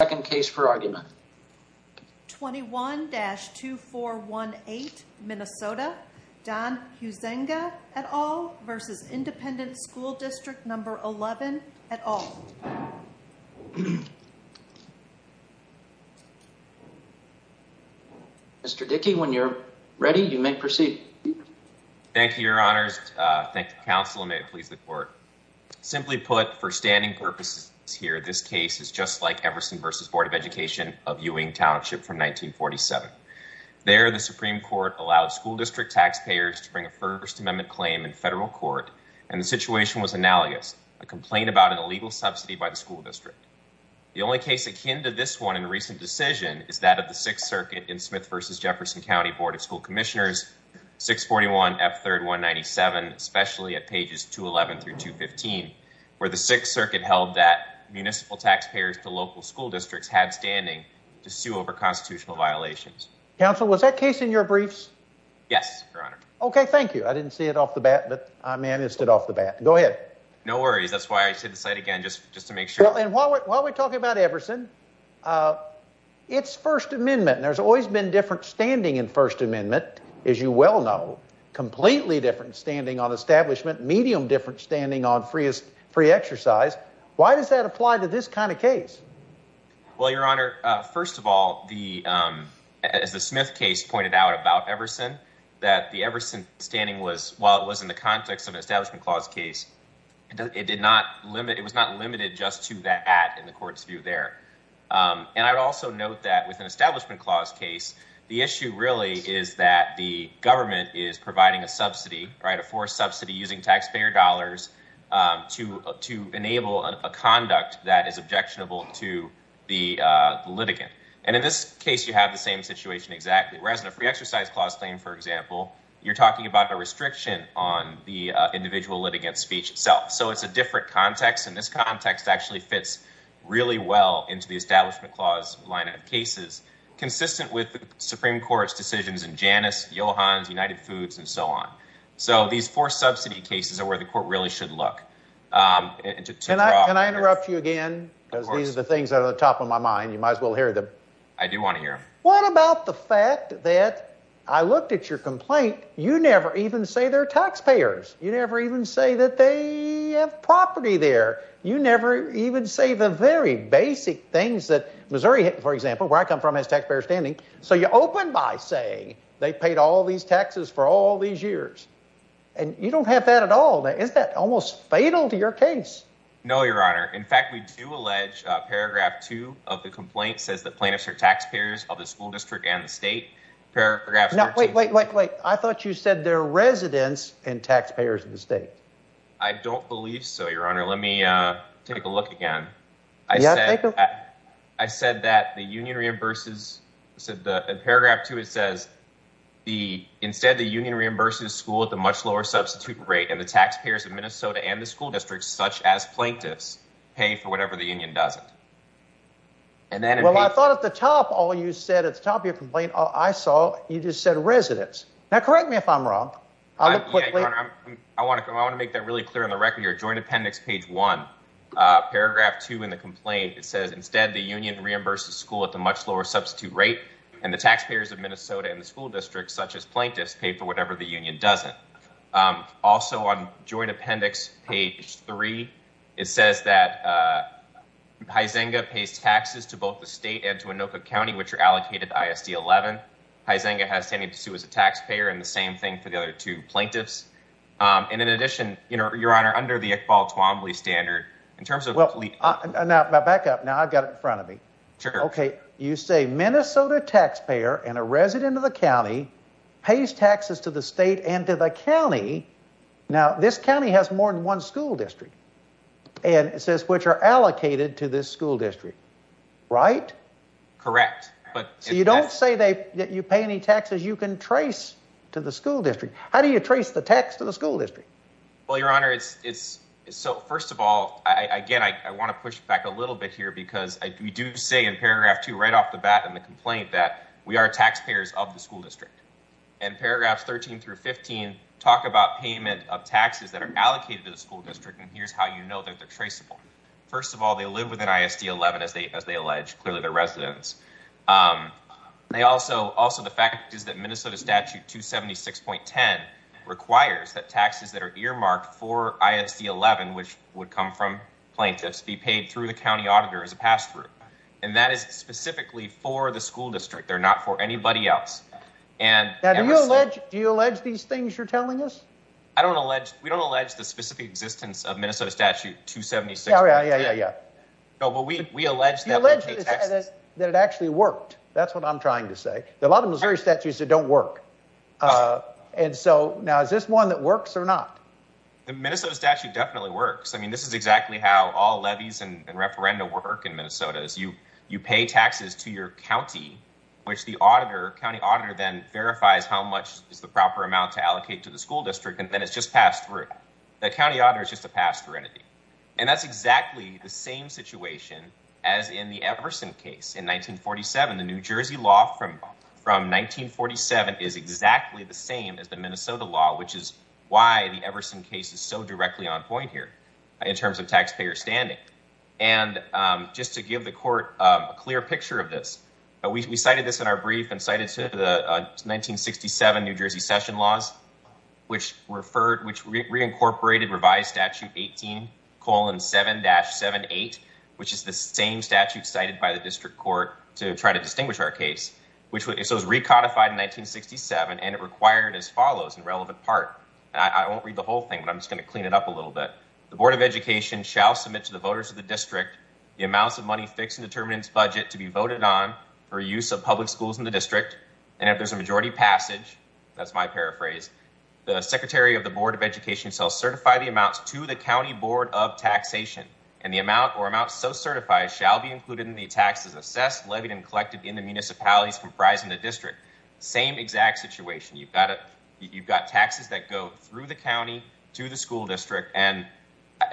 Second case for argument 21-2418, Minnesota, Don Huizenga et al. v. ISD No. 11 et al. Mr. Dickey, when you're ready, you may proceed. Thank you, Your Honors. Thank you, Counsel, and may it please the Court. Simply put, for standing purposes here, this case is just like Everson v. Board of Education of Ewing Township from 1947. There the Supreme Court allowed school district taxpayers to bring a First Amendment claim in federal court, and the situation was analogous, a complaint about an illegal subsidy by the school district. The only case akin to this one in recent decision is that of the Sixth Circuit in Smith v. Jefferson County Board of School Commissioners, 641F3197, especially at pages 211 through 215, where the Sixth Circuit held that municipal taxpayers to local school districts had standing to sue over constitutional violations. Counsel, was that case in your briefs? Yes, Your Honor. Okay, thank you. I didn't see it off the bat, but I managed it off the bat. Go ahead. No worries. That's why I said the site again, just to make sure. Well, and while we're talking about Everson, its First Amendment, and there's always been a different standing in First Amendment, as you well know, completely different standing on establishment, medium different standing on free exercise. Why does that apply to this kind of case? Well, Your Honor, first of all, as the Smith case pointed out about Everson, that the Everson standing was, while it was in the context of an Establishment Clause case, it was not limited just to that in the court's view there. And I would also note that with an Establishment Clause case, the issue really is that the government is providing a subsidy, right, a forced subsidy using taxpayer dollars to enable a conduct that is objectionable to the litigant. And in this case, you have the same situation exactly, whereas in a Free Exercise Clause claim, for example, you're talking about a restriction on the individual litigant's speech itself. So it's a different context, and this context actually fits really well into the Establishment Clause line of cases, consistent with the Supreme Court's decisions in Janus, Johans, United Foods, and so on. So these forced subsidy cases are where the court really should look. Can I interrupt you again? Of course. Because these are the things that are at the top of my mind, you might as well hear them. I do want to hear them. What about the fact that I looked at your complaint, you never even say they're taxpayers. You never even say that they have property there. You never even say the very basic things that Missouri, for example, where I come from has taxpayer standing. So you open by saying they paid all these taxes for all these years. And you don't have that at all. Is that almost fatal to your case? No, Your Honor. In fact, we do allege Paragraph 2 of the complaint says that plaintiffs are taxpayers of the school district and the state. Paragraph 2. Wait, wait, wait, wait. I thought you said they're residents and taxpayers of the state. I don't believe so, Your Honor. Let me take a look again. I said that the union reimburses said that in Paragraph 2, it says the instead the union reimburses school at the much lower substitute rate and the taxpayers of Minnesota and the school districts such as plaintiffs pay for whatever the union doesn't. And then I thought at the top, all you said at the top of your complaint, I saw you just said residents. Now, correct me if I'm wrong. I'll look quickly. I want to go. I want to make that really clear on the record here. Joint Appendix Page 1, Paragraph 2 in the complaint, it says instead the union reimburses school at the much lower substitute rate and the taxpayers of Minnesota and the school districts such as plaintiffs pay for whatever the union doesn't. Also on Joint Appendix Page 3, it says that Huizenga pays taxes to both the state and to Anoka County, which are allocated ISD 11. Huizenga has standing to sue as a taxpayer and the same thing for the other two plaintiffs. And in addition, you know, your honor, under the Iqbal Twombly standard, in terms of well, now back up now, I've got it in front of me. OK, you say Minnesota taxpayer and a resident of the county pays taxes to the state and to the county. Now, this county has more than one school district and it says which are allocated to this school district. Right. Correct. But so you don't say that you pay any taxes you can trace to the school district. How do you trace the tax to the school district? Well, your honor, it's so first of all, again, I want to push back a little bit here because we do say in paragraph two right off the bat in the complaint that we are taxpayers of the school district and paragraphs 13 through 15 talk about payment of taxes that are allocated to the school district. And here's how you know that they're traceable. First of all, they live within ISD 11, as they as they allege, clearly the residents. They also also the fact is that Minnesota statute two seventy six point ten requires that taxes that are earmarked for ISD 11, which would come from plaintiffs, be paid through the county auditor as a pass through. And that is specifically for the school district. They're not for anybody else. And do you allege these things you're telling us? I don't allege we don't allege the specific existence of Minnesota statute two seventy six. Yeah, yeah, yeah, yeah. No, but we we allege that it actually worked. That's what I'm trying to say. A lot of Missouri statutes that don't work. And so now is this one that works or not? The Minnesota statute definitely works. I mean, this is exactly how all levies and referenda work in Minnesota as you you pay taxes to your county, which the auditor county auditor then verifies how much is the proper amount to allocate to the school district. And then it's just passed through the county auditor is just a pass through entity. And that's exactly the same situation as in the Everson case in nineteen forty seven. The New Jersey law from from nineteen forty seven is exactly the same as the Minnesota law, which is why the Everson case is so directly on point here in terms of taxpayer standing. And just to give the court a clear picture of this, we cited this in our brief and cited to the nineteen sixty seven New Jersey session laws, which referred which reincorporated revised statute eighteen colon seven dash seven eight, which is the same statute cited by the district court to try to distinguish our case, which was recodified in nineteen sixty seven. And it required as follows in relevant part. And I won't read the whole thing, but I'm just going to clean it up a little bit. The Board of Education shall submit to the voters of the district the amounts of money fixing determinants budget to be voted on for use of public schools in the district. And if there's a majority passage, that's my paraphrase. The secretary of the Board of Education shall certify the amounts to the county board of taxation and the amount or amount so certified shall be included in the taxes assessed, levied and collected in the municipalities comprising the district. Same exact situation. You've got it. You've got taxes that go through the county to the school district. And,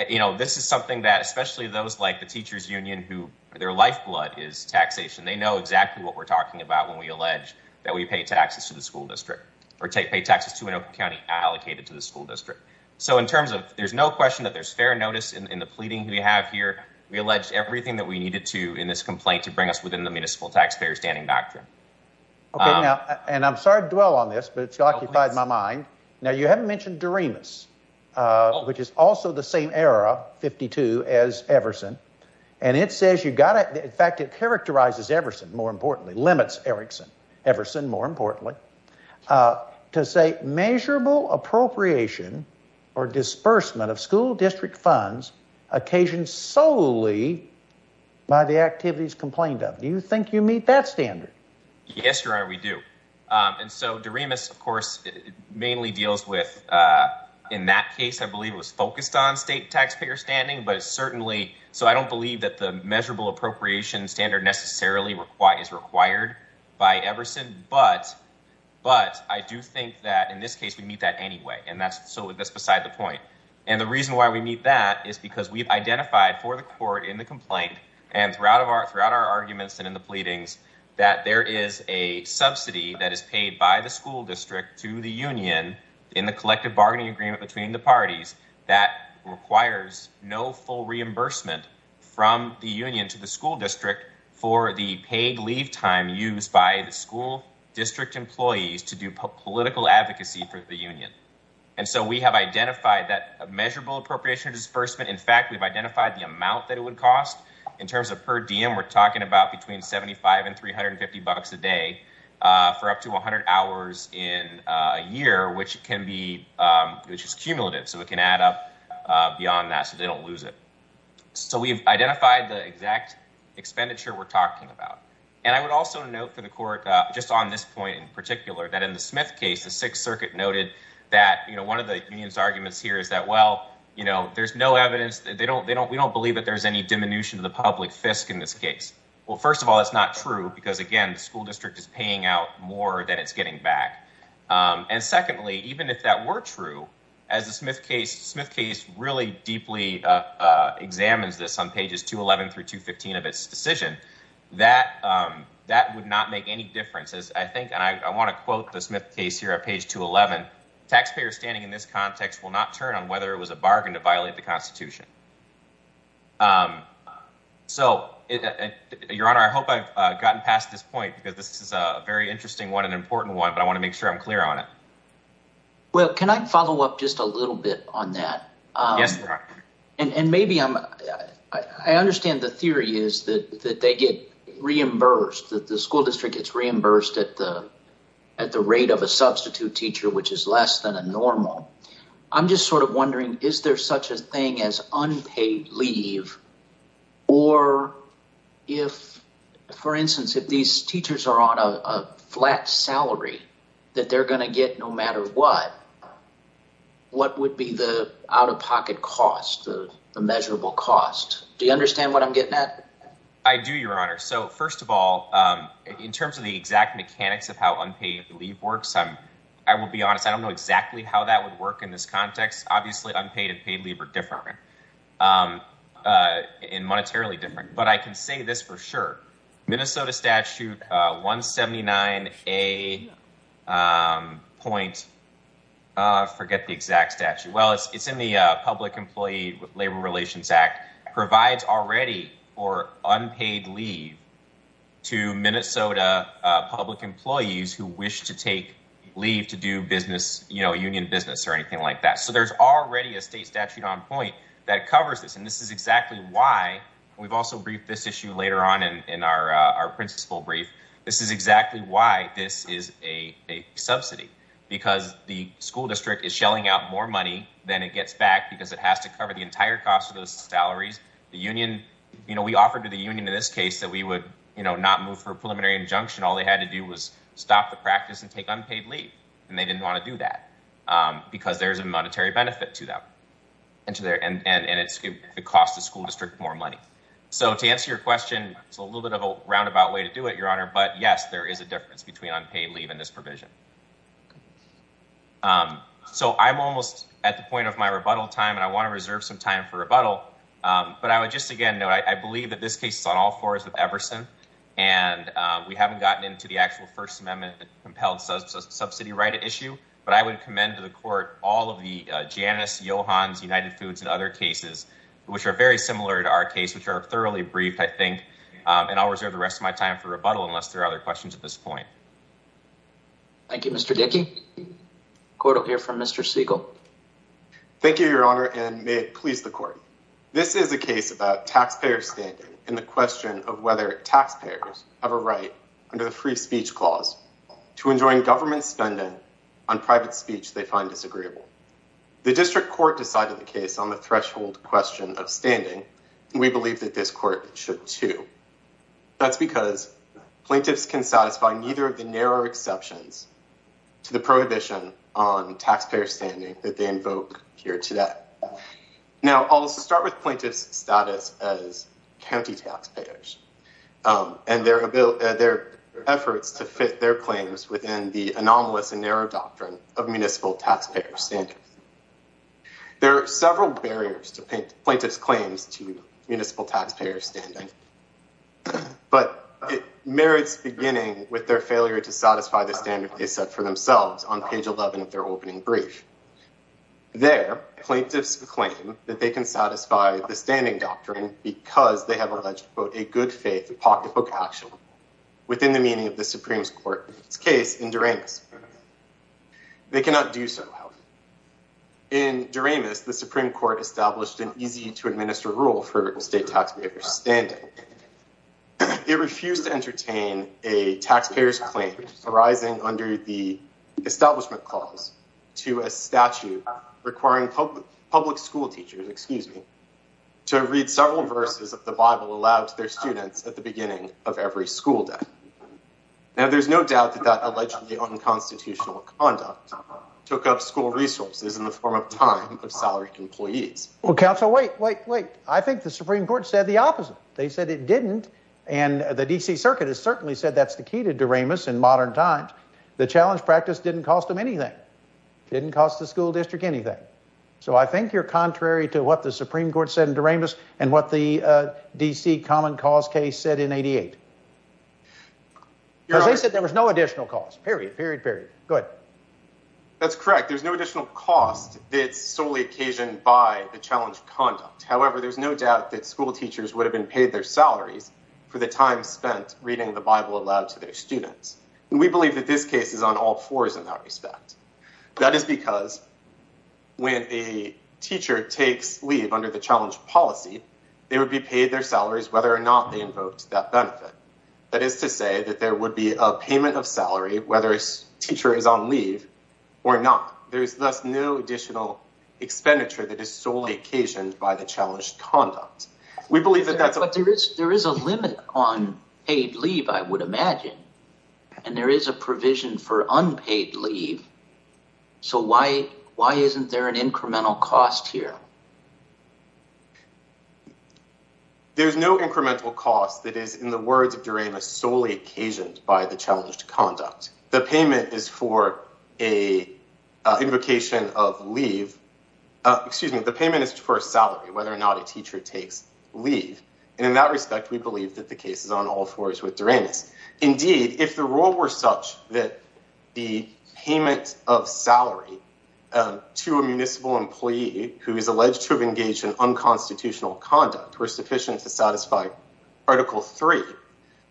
you know, this is something that especially those like the teachers union who their lifeblood is taxation. They know exactly what we're talking about when we allege that we pay taxes to the school district. And we're not going to pay taxes to the school district because we don't have enough money allocated to the school district. So in terms of there's no question that there's fair notice in the pleading we have here, we allege everything that we needed to in this complaint to bring us within the municipal taxpayer standing doctrine. OK, now and I'm sorry to dwell on this, but it's occupied my mind. Now, you haven't mentioned Doremus, which is also the same era, 52, as Everson. And it says you've got to in fact, it characterizes Everson, more importantly, limits Erickson, Everson, more importantly, to say measurable appropriation or disbursement of school district funds occasioned solely by the activities complained of. Do you think you meet that standard? Yes, your honor, we do. And so Doremus, of course, mainly deals with in that case, I believe it was focused on state taxpayer standing. But it's certainly so I don't believe that the measurable appropriation standard necessarily required is required by Everson. But but I do think that in this case, we meet that anyway. And that's so that's beside the point. And the reason why we meet that is because we've identified for the court in the complaint and throughout of our throughout our arguments and in the pleadings that there is a subsidy that is paid by the school district to the union in the collective bargaining agreement between the parties that requires no full reimbursement from the union to the school district for the paid leave time used by the school district employees to do political advocacy for the union. And so we have identified that measurable appropriation disbursement. In fact, we've identified the amount that it would cost in terms of per diem. We're talking about between 75 and 350 bucks a day for up to 100 hours in a year, which can be which is cumulative. So we can add up beyond that. So they don't lose it. So we've identified the exact expenditure we're talking about, and I would also note for the court just on this point in particular, that in the Smith case, the Sixth Circuit noted that one of the arguments here is that, well, you know, there's no evidence that they don't they don't we don't believe that there's any diminution of the public fisc in this case. Well, first of all, it's not true because, again, the school district is paying out more than it's getting back. And secondly, even if that were true, as the Smith case, Smith case really deeply examines this on pages 211 through 215 of its decision, that that would not make any difference, as I think. And I want to quote the Smith case here at page 211. Taxpayers standing in this context will not turn on whether it was a bargain to violate the Constitution. So, Your Honor, I hope I've gotten past this point, because this is a very interesting one, an important one, but I want to make sure I'm clear on it. Well, can I follow up just a little bit on that? Yes. And maybe I understand the theory is that they get reimbursed, that the school district gets reimbursed at the at the rate of a substitute teacher, which is less than a normal. I'm just sort of wondering, is there such a thing as unpaid leave? Or if, for instance, if these teachers are on a flat salary that they're going to get no matter what, what would be the out-of-pocket cost, the measurable cost? Do you understand what I'm getting at? I do, Your Honor. So, first of all, in terms of the exact mechanics of how unpaid leave works, I will be honest, I don't know exactly how that would work in this context. Obviously, unpaid and paid leave are different. And monetarily different. But I can say this for sure. Minnesota statute 179A, point, I forget the exact statute. Well, it's in the Public Employee Labor Relations Act, provides already for unpaid leave to Minnesota public employees who wish to take leave to do business, union business or anything like that. So there's already a state statute on point that covers this. And this is exactly why we've also briefed this issue later on in our principal brief. This is exactly why this is a subsidy, because the school district is shelling out more money than it gets back because it has to cover the entire cost of those salaries. The union, you know, we offered to the union in this case that we would not move for a preliminary injunction. All they had to do was stop the practice and take unpaid leave. And they didn't want to do that because there is a monetary benefit to them. And to their end, and it's the cost of school district, more money. So to answer your question, it's a little bit of a roundabout way to do it, Your Honor. But yes, there is a difference between unpaid leave in this provision. So I'm almost at the point of my rebuttal time and I want to reserve some time for rebuttal. But I would just again know, I believe that this case is on all fours with Everson and we haven't gotten into the actual First Amendment compelled subsidy right issue. But I would commend to the court all of the Janus, Johans, United Foods and other cases which are very similar to our case, which are thoroughly briefed, I think. And I'll reserve the rest of my time for rebuttal unless there are other questions at this point. Thank you, Mr. Dickey. Court will hear from Mr. Siegel. Thank you, Your Honor, and may it please the court. This is a case about taxpayer standing in the question of whether taxpayers have a right under the free speech clause to enjoin government spending on private speech they find disagreeable. The district court decided the case on the threshold question of standing. We believe that this court should, too. That's because plaintiffs can satisfy neither of the narrow exceptions to the prohibition on taxpayer standing that they invoke here today. Now, I'll start with plaintiff's status as county taxpayers and their ability, their efforts to fit their claims within the anomalous and narrow doctrine of municipal taxpayer standards. There are several barriers to plaintiff's claims to municipal taxpayer standing, but merits beginning with their failure to satisfy the standard they set for themselves on page 11 of their opening brief. Their plaintiffs claim that they can satisfy the standing doctrine because they have alleged, quote, a good faith pocketbook action within the meaning of the Supreme Court's case in Duremus. They cannot do so. In Duremus, the Supreme Court established an easy to administer rule for state taxpayers standing. It refused to entertain a taxpayer's claim arising under the establishment clause to a statute requiring public school teachers, excuse me, to read several verses of the Bible aloud to their students at the beginning of every school day. Now, there's no doubt that that allegedly unconstitutional conduct took up school resources in the form of time of salaried employees. Well, counsel, wait, wait, wait. I think the Supreme Court said the opposite. They said it didn't. And the D.C. Circuit has certainly said that's the key to Duremus in modern times. The challenge practice didn't cost them anything, didn't cost the school district anything. So I think you're contrary to what the Supreme Court said in Duremus and what the D.C. common cause case said in 88. Because they said there was no additional cost, period, period, period. Good. That's correct. There's no additional cost that's solely occasioned by the challenge conduct. However, there's no doubt that school teachers would have been paid their salaries for the time spent reading the Bible aloud to their students. And we believe that this case is on all fours in that respect. That is because when a teacher takes leave under the challenge policy, they would be paid their salaries whether or not they invoked that benefit. That is to say that there would be a payment of salary whether a teacher is on leave or not. There is thus no additional expenditure that is solely occasioned by the challenge conduct. We believe that that's what there is. There is a limit on paid leave, I would imagine. And there is a provision for unpaid leave. So why why isn't there an incremental cost here? There's no incremental cost that is, in the words of Duremus, solely occasioned by the challenge to conduct. The payment is for a invocation of leave. Excuse me. The payment is for a salary, whether or not a teacher takes leave. And in that respect, we believe that the case is on all fours with Duremus. Indeed, if the rule were such that the payment of salary to a municipal employee who is alleged to have engaged in unconstitutional conduct were sufficient to satisfy Article 3,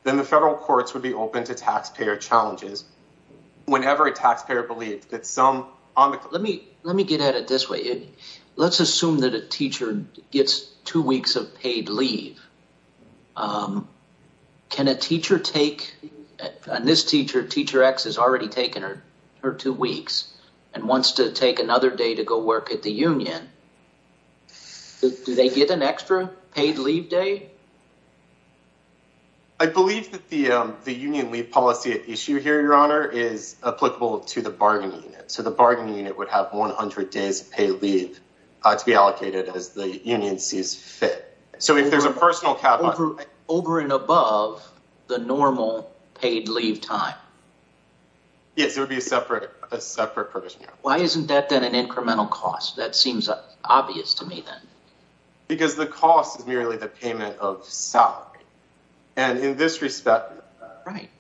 then the federal courts would be open to taxpayer challenges whenever a taxpayer believes that some... Let me let me get at it this way. Let's assume that a teacher gets two weeks of paid leave. Can a teacher take... And this teacher, Teacher X, has already taken her two weeks and wants to take another day to go work at the union. Do they get an extra paid leave day? I believe that the union leave policy at issue here, Your Honor, is applicable to the bargaining unit. So the bargaining unit would have 100 days paid leave to be allocated as the union sees fit. So if there's a personal capital over and above the normal paid leave time. Yes, it would be a separate, a separate provision. Why isn't that then an incremental cost? That seems obvious to me, then. Because the cost is merely the payment of salary. And in this respect, right.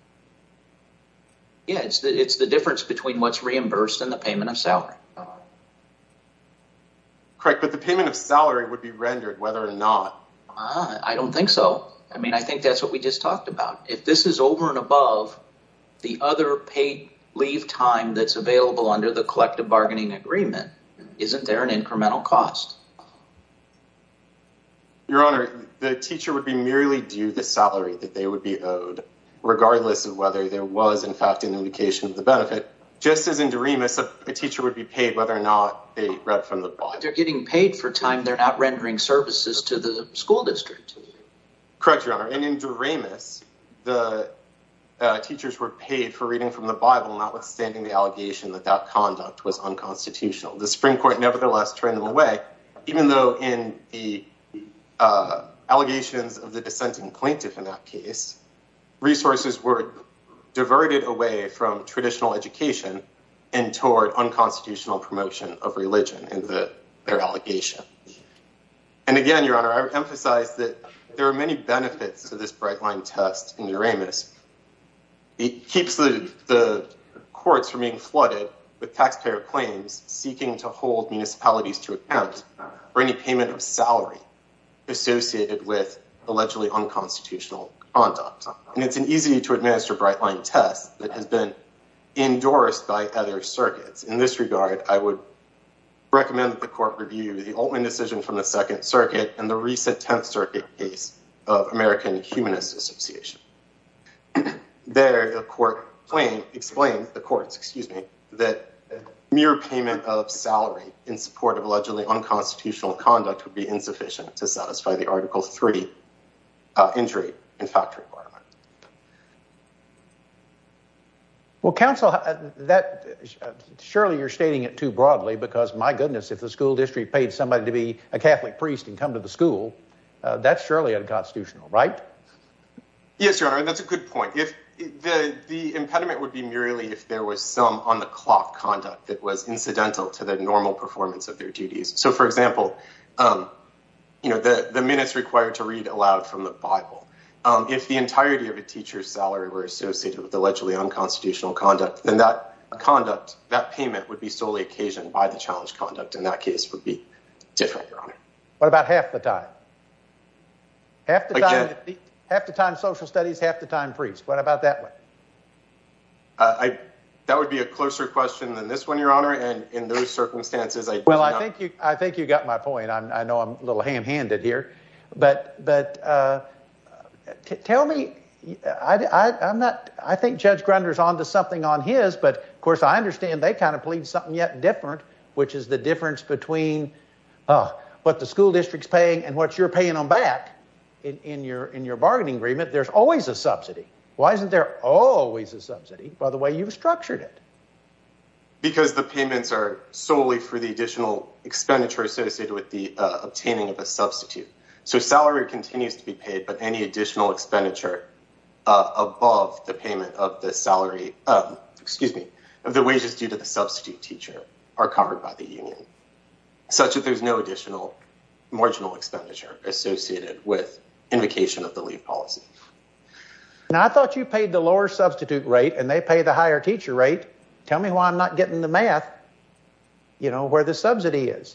Yes, it's the difference between what's reimbursed and the payment of salary. Correct, but the payment of salary would be rendered whether or not. I don't think so. I mean, I think that's what we just talked about. If this is over and above the other paid leave time that's available under the collective bargaining agreement, isn't there an incremental cost? Your Honor, the teacher would be merely due the salary that they would be owed, regardless of whether there was, in fact, an indication of the benefit. Just as in Doremus, a teacher would be paid whether or not they read from the Bible. They're getting paid for time they're not rendering services to the school district. Correct, Your Honor. And in Doremus, the teachers were paid for reading from the Bible, notwithstanding the allegation that that conduct was unconstitutional. The Supreme Court nevertheless turned them away, even though in the allegations of the dissenting plaintiff in that case, resources were diverted away from traditional education and toward unconstitutional promotion of religion in their allegation. And again, Your Honor, I emphasize that there are many benefits to this bright line test in Doremus. It keeps the courts from being flooded with taxpayer claims seeking to hold municipalities to account for any payment of salary associated with allegedly unconstitutional conduct. And it's an easy to administer bright line test that has been endorsed by other circuits. In this regard, I would recommend that the court review the Altman decision from the Second Circuit and the recent Tenth Circuit case of American Humanist Association. There, the court explained the courts, excuse me, that mere payment of salary in support of allegedly unconstitutional conduct would be insufficient to satisfy the Article III injury in fact requirement. Well, counsel, surely you're stating it too broadly because my goodness, if the school district paid somebody to be a Catholic priest and come to the school, that's surely unconstitutional, right? Yes, Your Honor, that's a good point. If the impediment would be merely if there was some on-the-clock conduct that was incidental to the normal performance of their duties. So, for example, you know, the minutes required to read aloud from the Bible. If the entirety of a teacher's salary were associated with allegedly unconstitutional conduct, then that conduct, that payment would be solely occasioned by the challenged conduct. And that case would be different, Your Honor. What about half the time? Half the time social studies, half the time priests. What about that one? That would be a closer question than this one, Your Honor, and in those circumstances, I don't know. Well, I think you got my point. I know I'm a little ham-handed here, but tell me, I'm not, I think Judge Grunder's on to something on his, but of course, I understand they kind of believe something yet different, which is the difference between what the school district's paying and what the school district's paying. But what you're paying them back in your bargaining agreement, there's always a subsidy. Why isn't there always a subsidy by the way you've structured it? Because the payments are solely for the additional expenditure associated with the obtaining of a substitute. So salary continues to be paid, but any additional expenditure above the payment of the salary, excuse me, of the wages due to the substitute teacher are covered by the union. Such that there's no additional marginal expenditure associated with invocation of the leave policy. Now, I thought you paid the lower substitute rate and they pay the higher teacher rate. Tell me why I'm not getting the math, you know, where the subsidy is.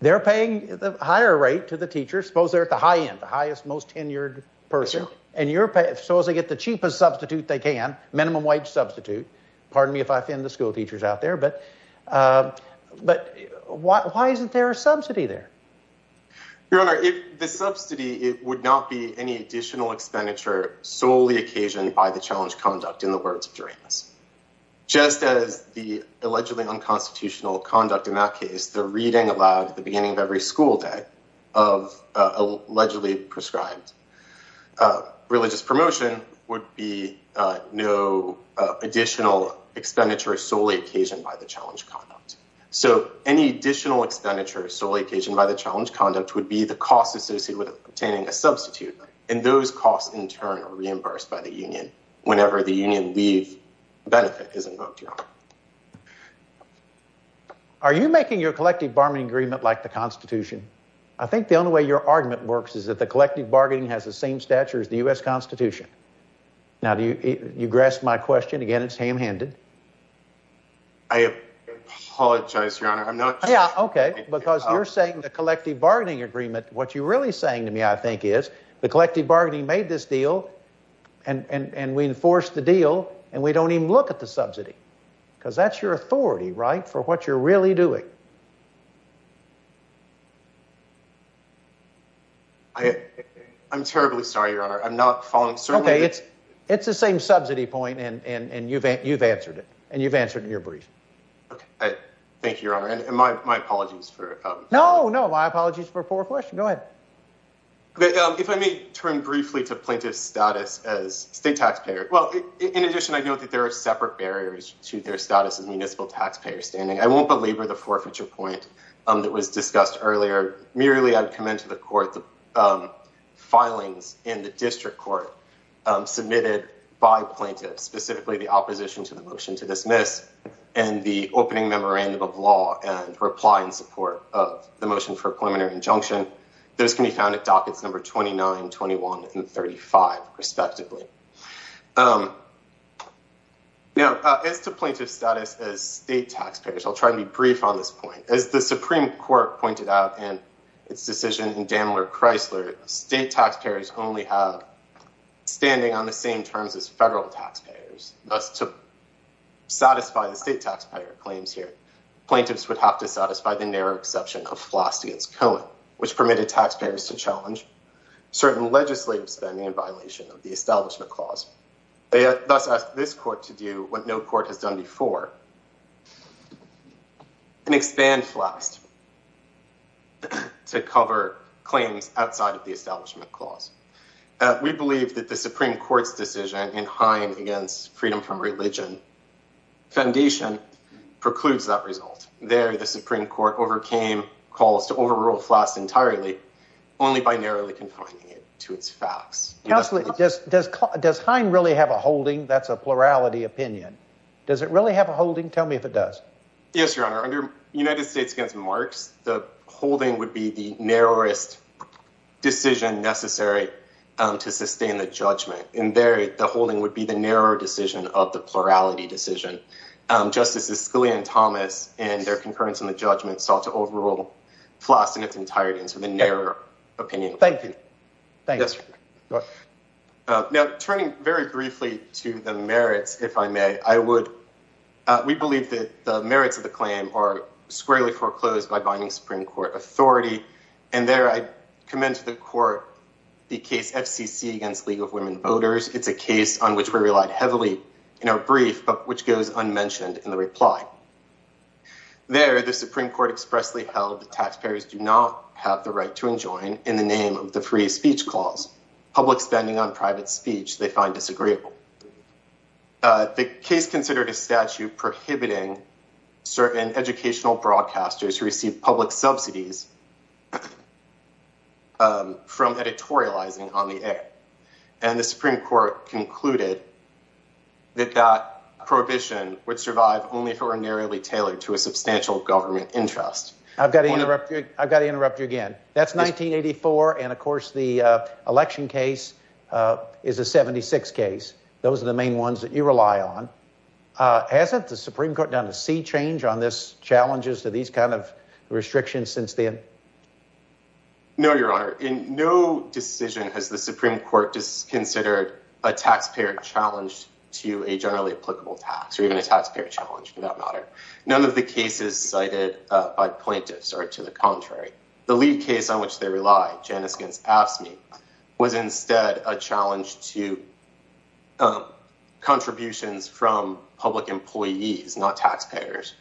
They're paying the higher rate to the teacher. Suppose they're at the high end, the highest, most tenured person. And so as they get the cheapest substitute they can, minimum wage substitute, pardon me if I offend the school teachers out there. But why isn't there a subsidy there? Your Honor, if the subsidy, it would not be any additional expenditure solely occasioned by the challenge conduct in the words of Duranus. Just as the allegedly unconstitutional conduct in that case, the reading allowed at the beginning of every school day of allegedly prescribed religious promotion, would be no additional expenditure solely occasioned by the challenge conduct. So any additional expenditure solely occasioned by the challenge conduct would be the cost associated with obtaining a substitute. And those costs in turn are reimbursed by the union whenever the union leave benefit is invoked, Your Honor. Are you making your collective bargaining agreement like the Constitution? I think the only way your argument works is that the collective bargaining has the same stature as the U.S. Constitution. Now, do you grasp my question? Again, it's ham-handed. I apologize, Your Honor. I'm not sure... Okay, because you're saying the collective bargaining agreement, what you're really saying to me I think is, the collective bargaining made this deal, and we enforce the deal, and we don't even look at the subsidy. Because that's your authority, right? For what you're really doing. I'm terribly sorry, Your Honor. I'm not following... It's the same subsidy point, and you've answered it. And you've answered it in your brief. Thank you, Your Honor. And my apologies for... No, no. My apologies for a poor question. Go ahead. If I may turn briefly to plaintiff's status as state taxpayer. Well, in addition, I know that there are separate barriers to their status as municipal taxpayer standing. I won't belabor the forfeiture point that was discussed earlier. Merely, I'd commend to the court the filings in the district court submitted by plaintiffs, specifically the opposition to the motion to dismiss, and the opening memorandum of law, and reply in support of the motion for a preliminary injunction. Those can be found at dockets number 29, 21, and 35, respectively. Now, as to plaintiff's status as state taxpayer, I'll try to be brief on this point. As the Supreme Court pointed out in its decision in Dandler-Chrysler, state taxpayers only have standing on the same terms as federal taxpayers. Thus, to satisfy the state taxpayer claims here, plaintiffs would have to satisfy the narrow exception of Floss against Cohen, which permitted taxpayers to challenge certain legislative spending in violation of the Establishment Clause. They thus asked this court to do what no court has done before, and expand Floss to cover claims outside of the Establishment Clause. We believe that the Supreme Court's decision in Hine against Freedom from Religion Foundation precludes that result. There, the Supreme Court overcame calls to overrule Floss entirely, only by narrowly confining it to its facts. Counsel, does Hine really have a holding? That's a plurality opinion. Does it really have a holding? Tell me if it does. Yes, Your Honor. Under United States against Marx, the holding would be the narrowest decision necessary to sustain the judgment. And there, the holding would be the narrow decision of the plurality decision. Justices Scalia and Thomas, in their concurrence on the judgment, sought to overrule Floss in its entirety, and so the narrow opinion. Thank you. Thank you. Yes, Your Honor. Now, turning very briefly to the merits, if I may, we believe that the merits of the claim are squarely foreclosed by binding Supreme Court authority. And there, I commend to the Court the case FCC against League of Women Voters. It's a case on which we relied heavily in our brief, but which goes unmentioned in the reply. There, the Supreme Court expressly held that taxpayers do not have the right to enjoin in the name of the free speech clause. Public spending on private speech, they find disagreeable. The case considered a statute prohibiting certain educational broadcasters who receive public subsidies from editorializing on the air. And the Supreme Court concluded that that prohibition would survive only if it were narrowly tailored to a substantial government interest. I've got to interrupt you. I've got to interrupt you again. That's 1984. And of course, the election case is a 76 case. Those are the main ones that you rely on. Hasn't the Supreme Court done a sea change on this challenges to these kind of restrictions since then? No, Your Honor. In no decision has the Supreme Court just considered a taxpayer challenge to a generally applicable tax or even a taxpayer challenge for that matter. None of the cases cited by plaintiffs are to the contrary. The lead case on which they rely, Janus against AFSCME, was instead a challenge to contributions from public employees, not taxpayers,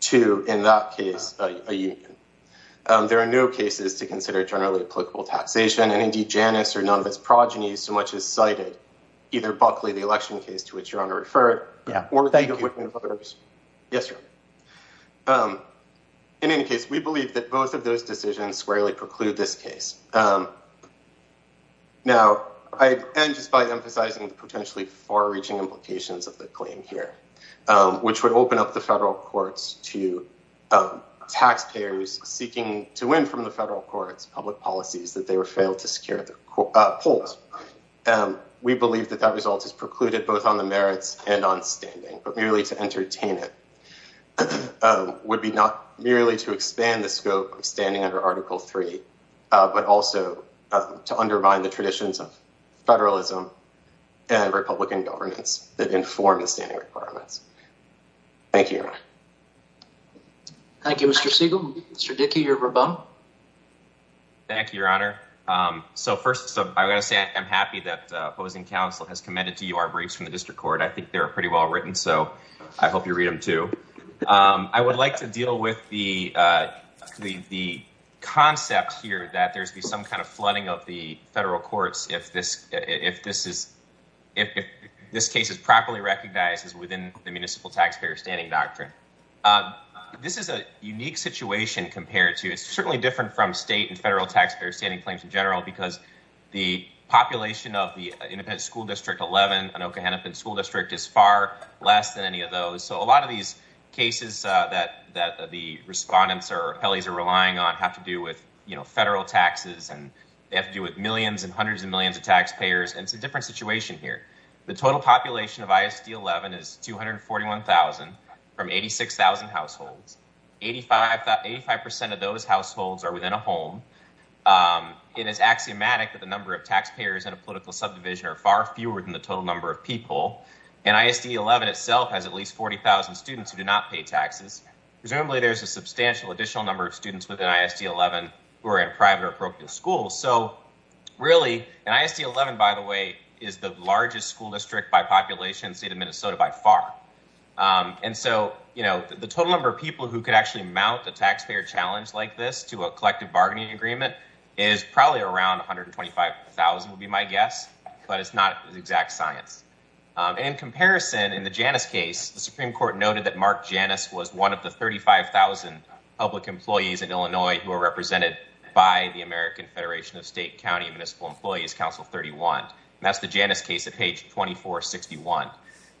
to, in that case, a union. There are no cases to consider generally applicable taxation. And indeed, Janus or none of its progenies so much as cited either Buckley, the election case to which Your Honor referred, or the Whitman brothers. Yes, Your Honor. In any case, we believe that both of those decisions squarely preclude this case. Now, I end just by emphasizing the potentially far-reaching implications of the claim here, which would open up the federal courts to taxpayers seeking to win from the federal courts public policies that they were failed to secure at the polls. We believe that that result is precluded both on the merits and on standing, but merely to entertain it would be not merely to expand the scope of standing under Article 3, but also to undermine the traditions of federalism and Republican governments that inform the standing requirements. Thank you, Your Honor. Thank you, Mr. Siegel. Mr. Dickey, you're rebun. Thank you, Your Honor. So first, I'm going to say I'm happy that opposing counsel has commended to you our briefs from the district court. I think they're pretty well written. So I hope you read them too. I would like to deal with the concept here that there's some kind of flooding of the federal courts if this case is properly recognized as within the municipal taxpayer standing doctrine. This is a unique situation compared to it's certainly different from state and federal taxpayer standing claims in general, because the population of the Independent School District 11, Anoka-Hennepin School District, is far less than any of those. So a lot of these cases that the respondents or appellees are relying on have to do with federal taxes and they have to do with millions and hundreds of millions of taxpayers. And it's a different situation here. The total population of ISD 11 is 241,000 from 86,000 households. Eighty-five percent of those households are within a home. It is axiomatic that the number of taxpayers in a political subdivision are far fewer than the total number of people. And ISD 11 itself has at least 40,000 students who do not pay taxes. Presumably there's a substantial additional number of students within ISD 11 who are in private or parochial schools. So really, and ISD 11, by the way, is the largest school district by population in the state of Minnesota by far. And so, you know, the total number of people who could actually mount a taxpayer challenge like this to a collective bargaining agreement is probably around 125,000 would be my guess, but it's not exact science. And in comparison, in the Janus case, the Supreme Court noted that Mark Janus was one of the 35,000 public employees in Illinois who are represented by the American Federation of State, County, and Municipal Employees, Council 31. That's the Janus case at page 2461.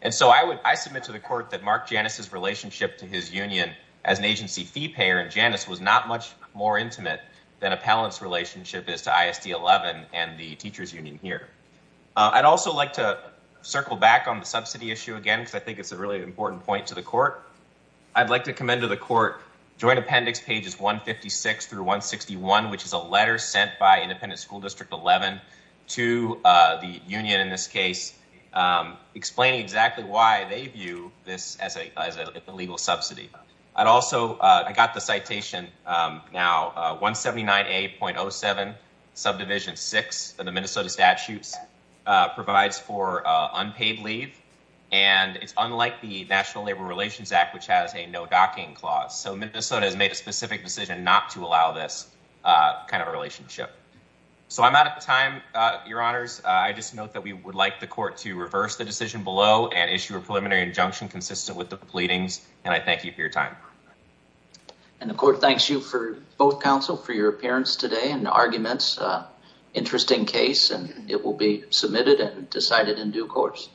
And so I would, I submit to the court that Mark Janus's relationship to his union as an agency fee payer and Janus was not much more intimate than appellant's relationship is to ISD 11 and the teachers union here. I'd also like to circle back on the subsidy issue again, because I think it's a really important point to the court. I'd like to commend to the court joint appendix pages 156 through 161, which is a letter sent by independent school district 11 to the union in this case, explaining exactly why they view this as a legal subsidy. I'd also, I got the citation now 179A.07 subdivision six of the Minnesota statutes provides for unpaid leave. And it's unlike the National Labor Relations Act, which has a no docking clause. So Minnesota has made a specific decision not to allow this kind of a relationship. So I'm out of time, your honors. I just note that we would like the court to reverse the decision below and issue a preliminary injunction consistent with the pleadings. And I thank you for your time. And the court thanks you for both counsel for your appearance today and the arguments. Interesting case and it will be submitted and decided in due course.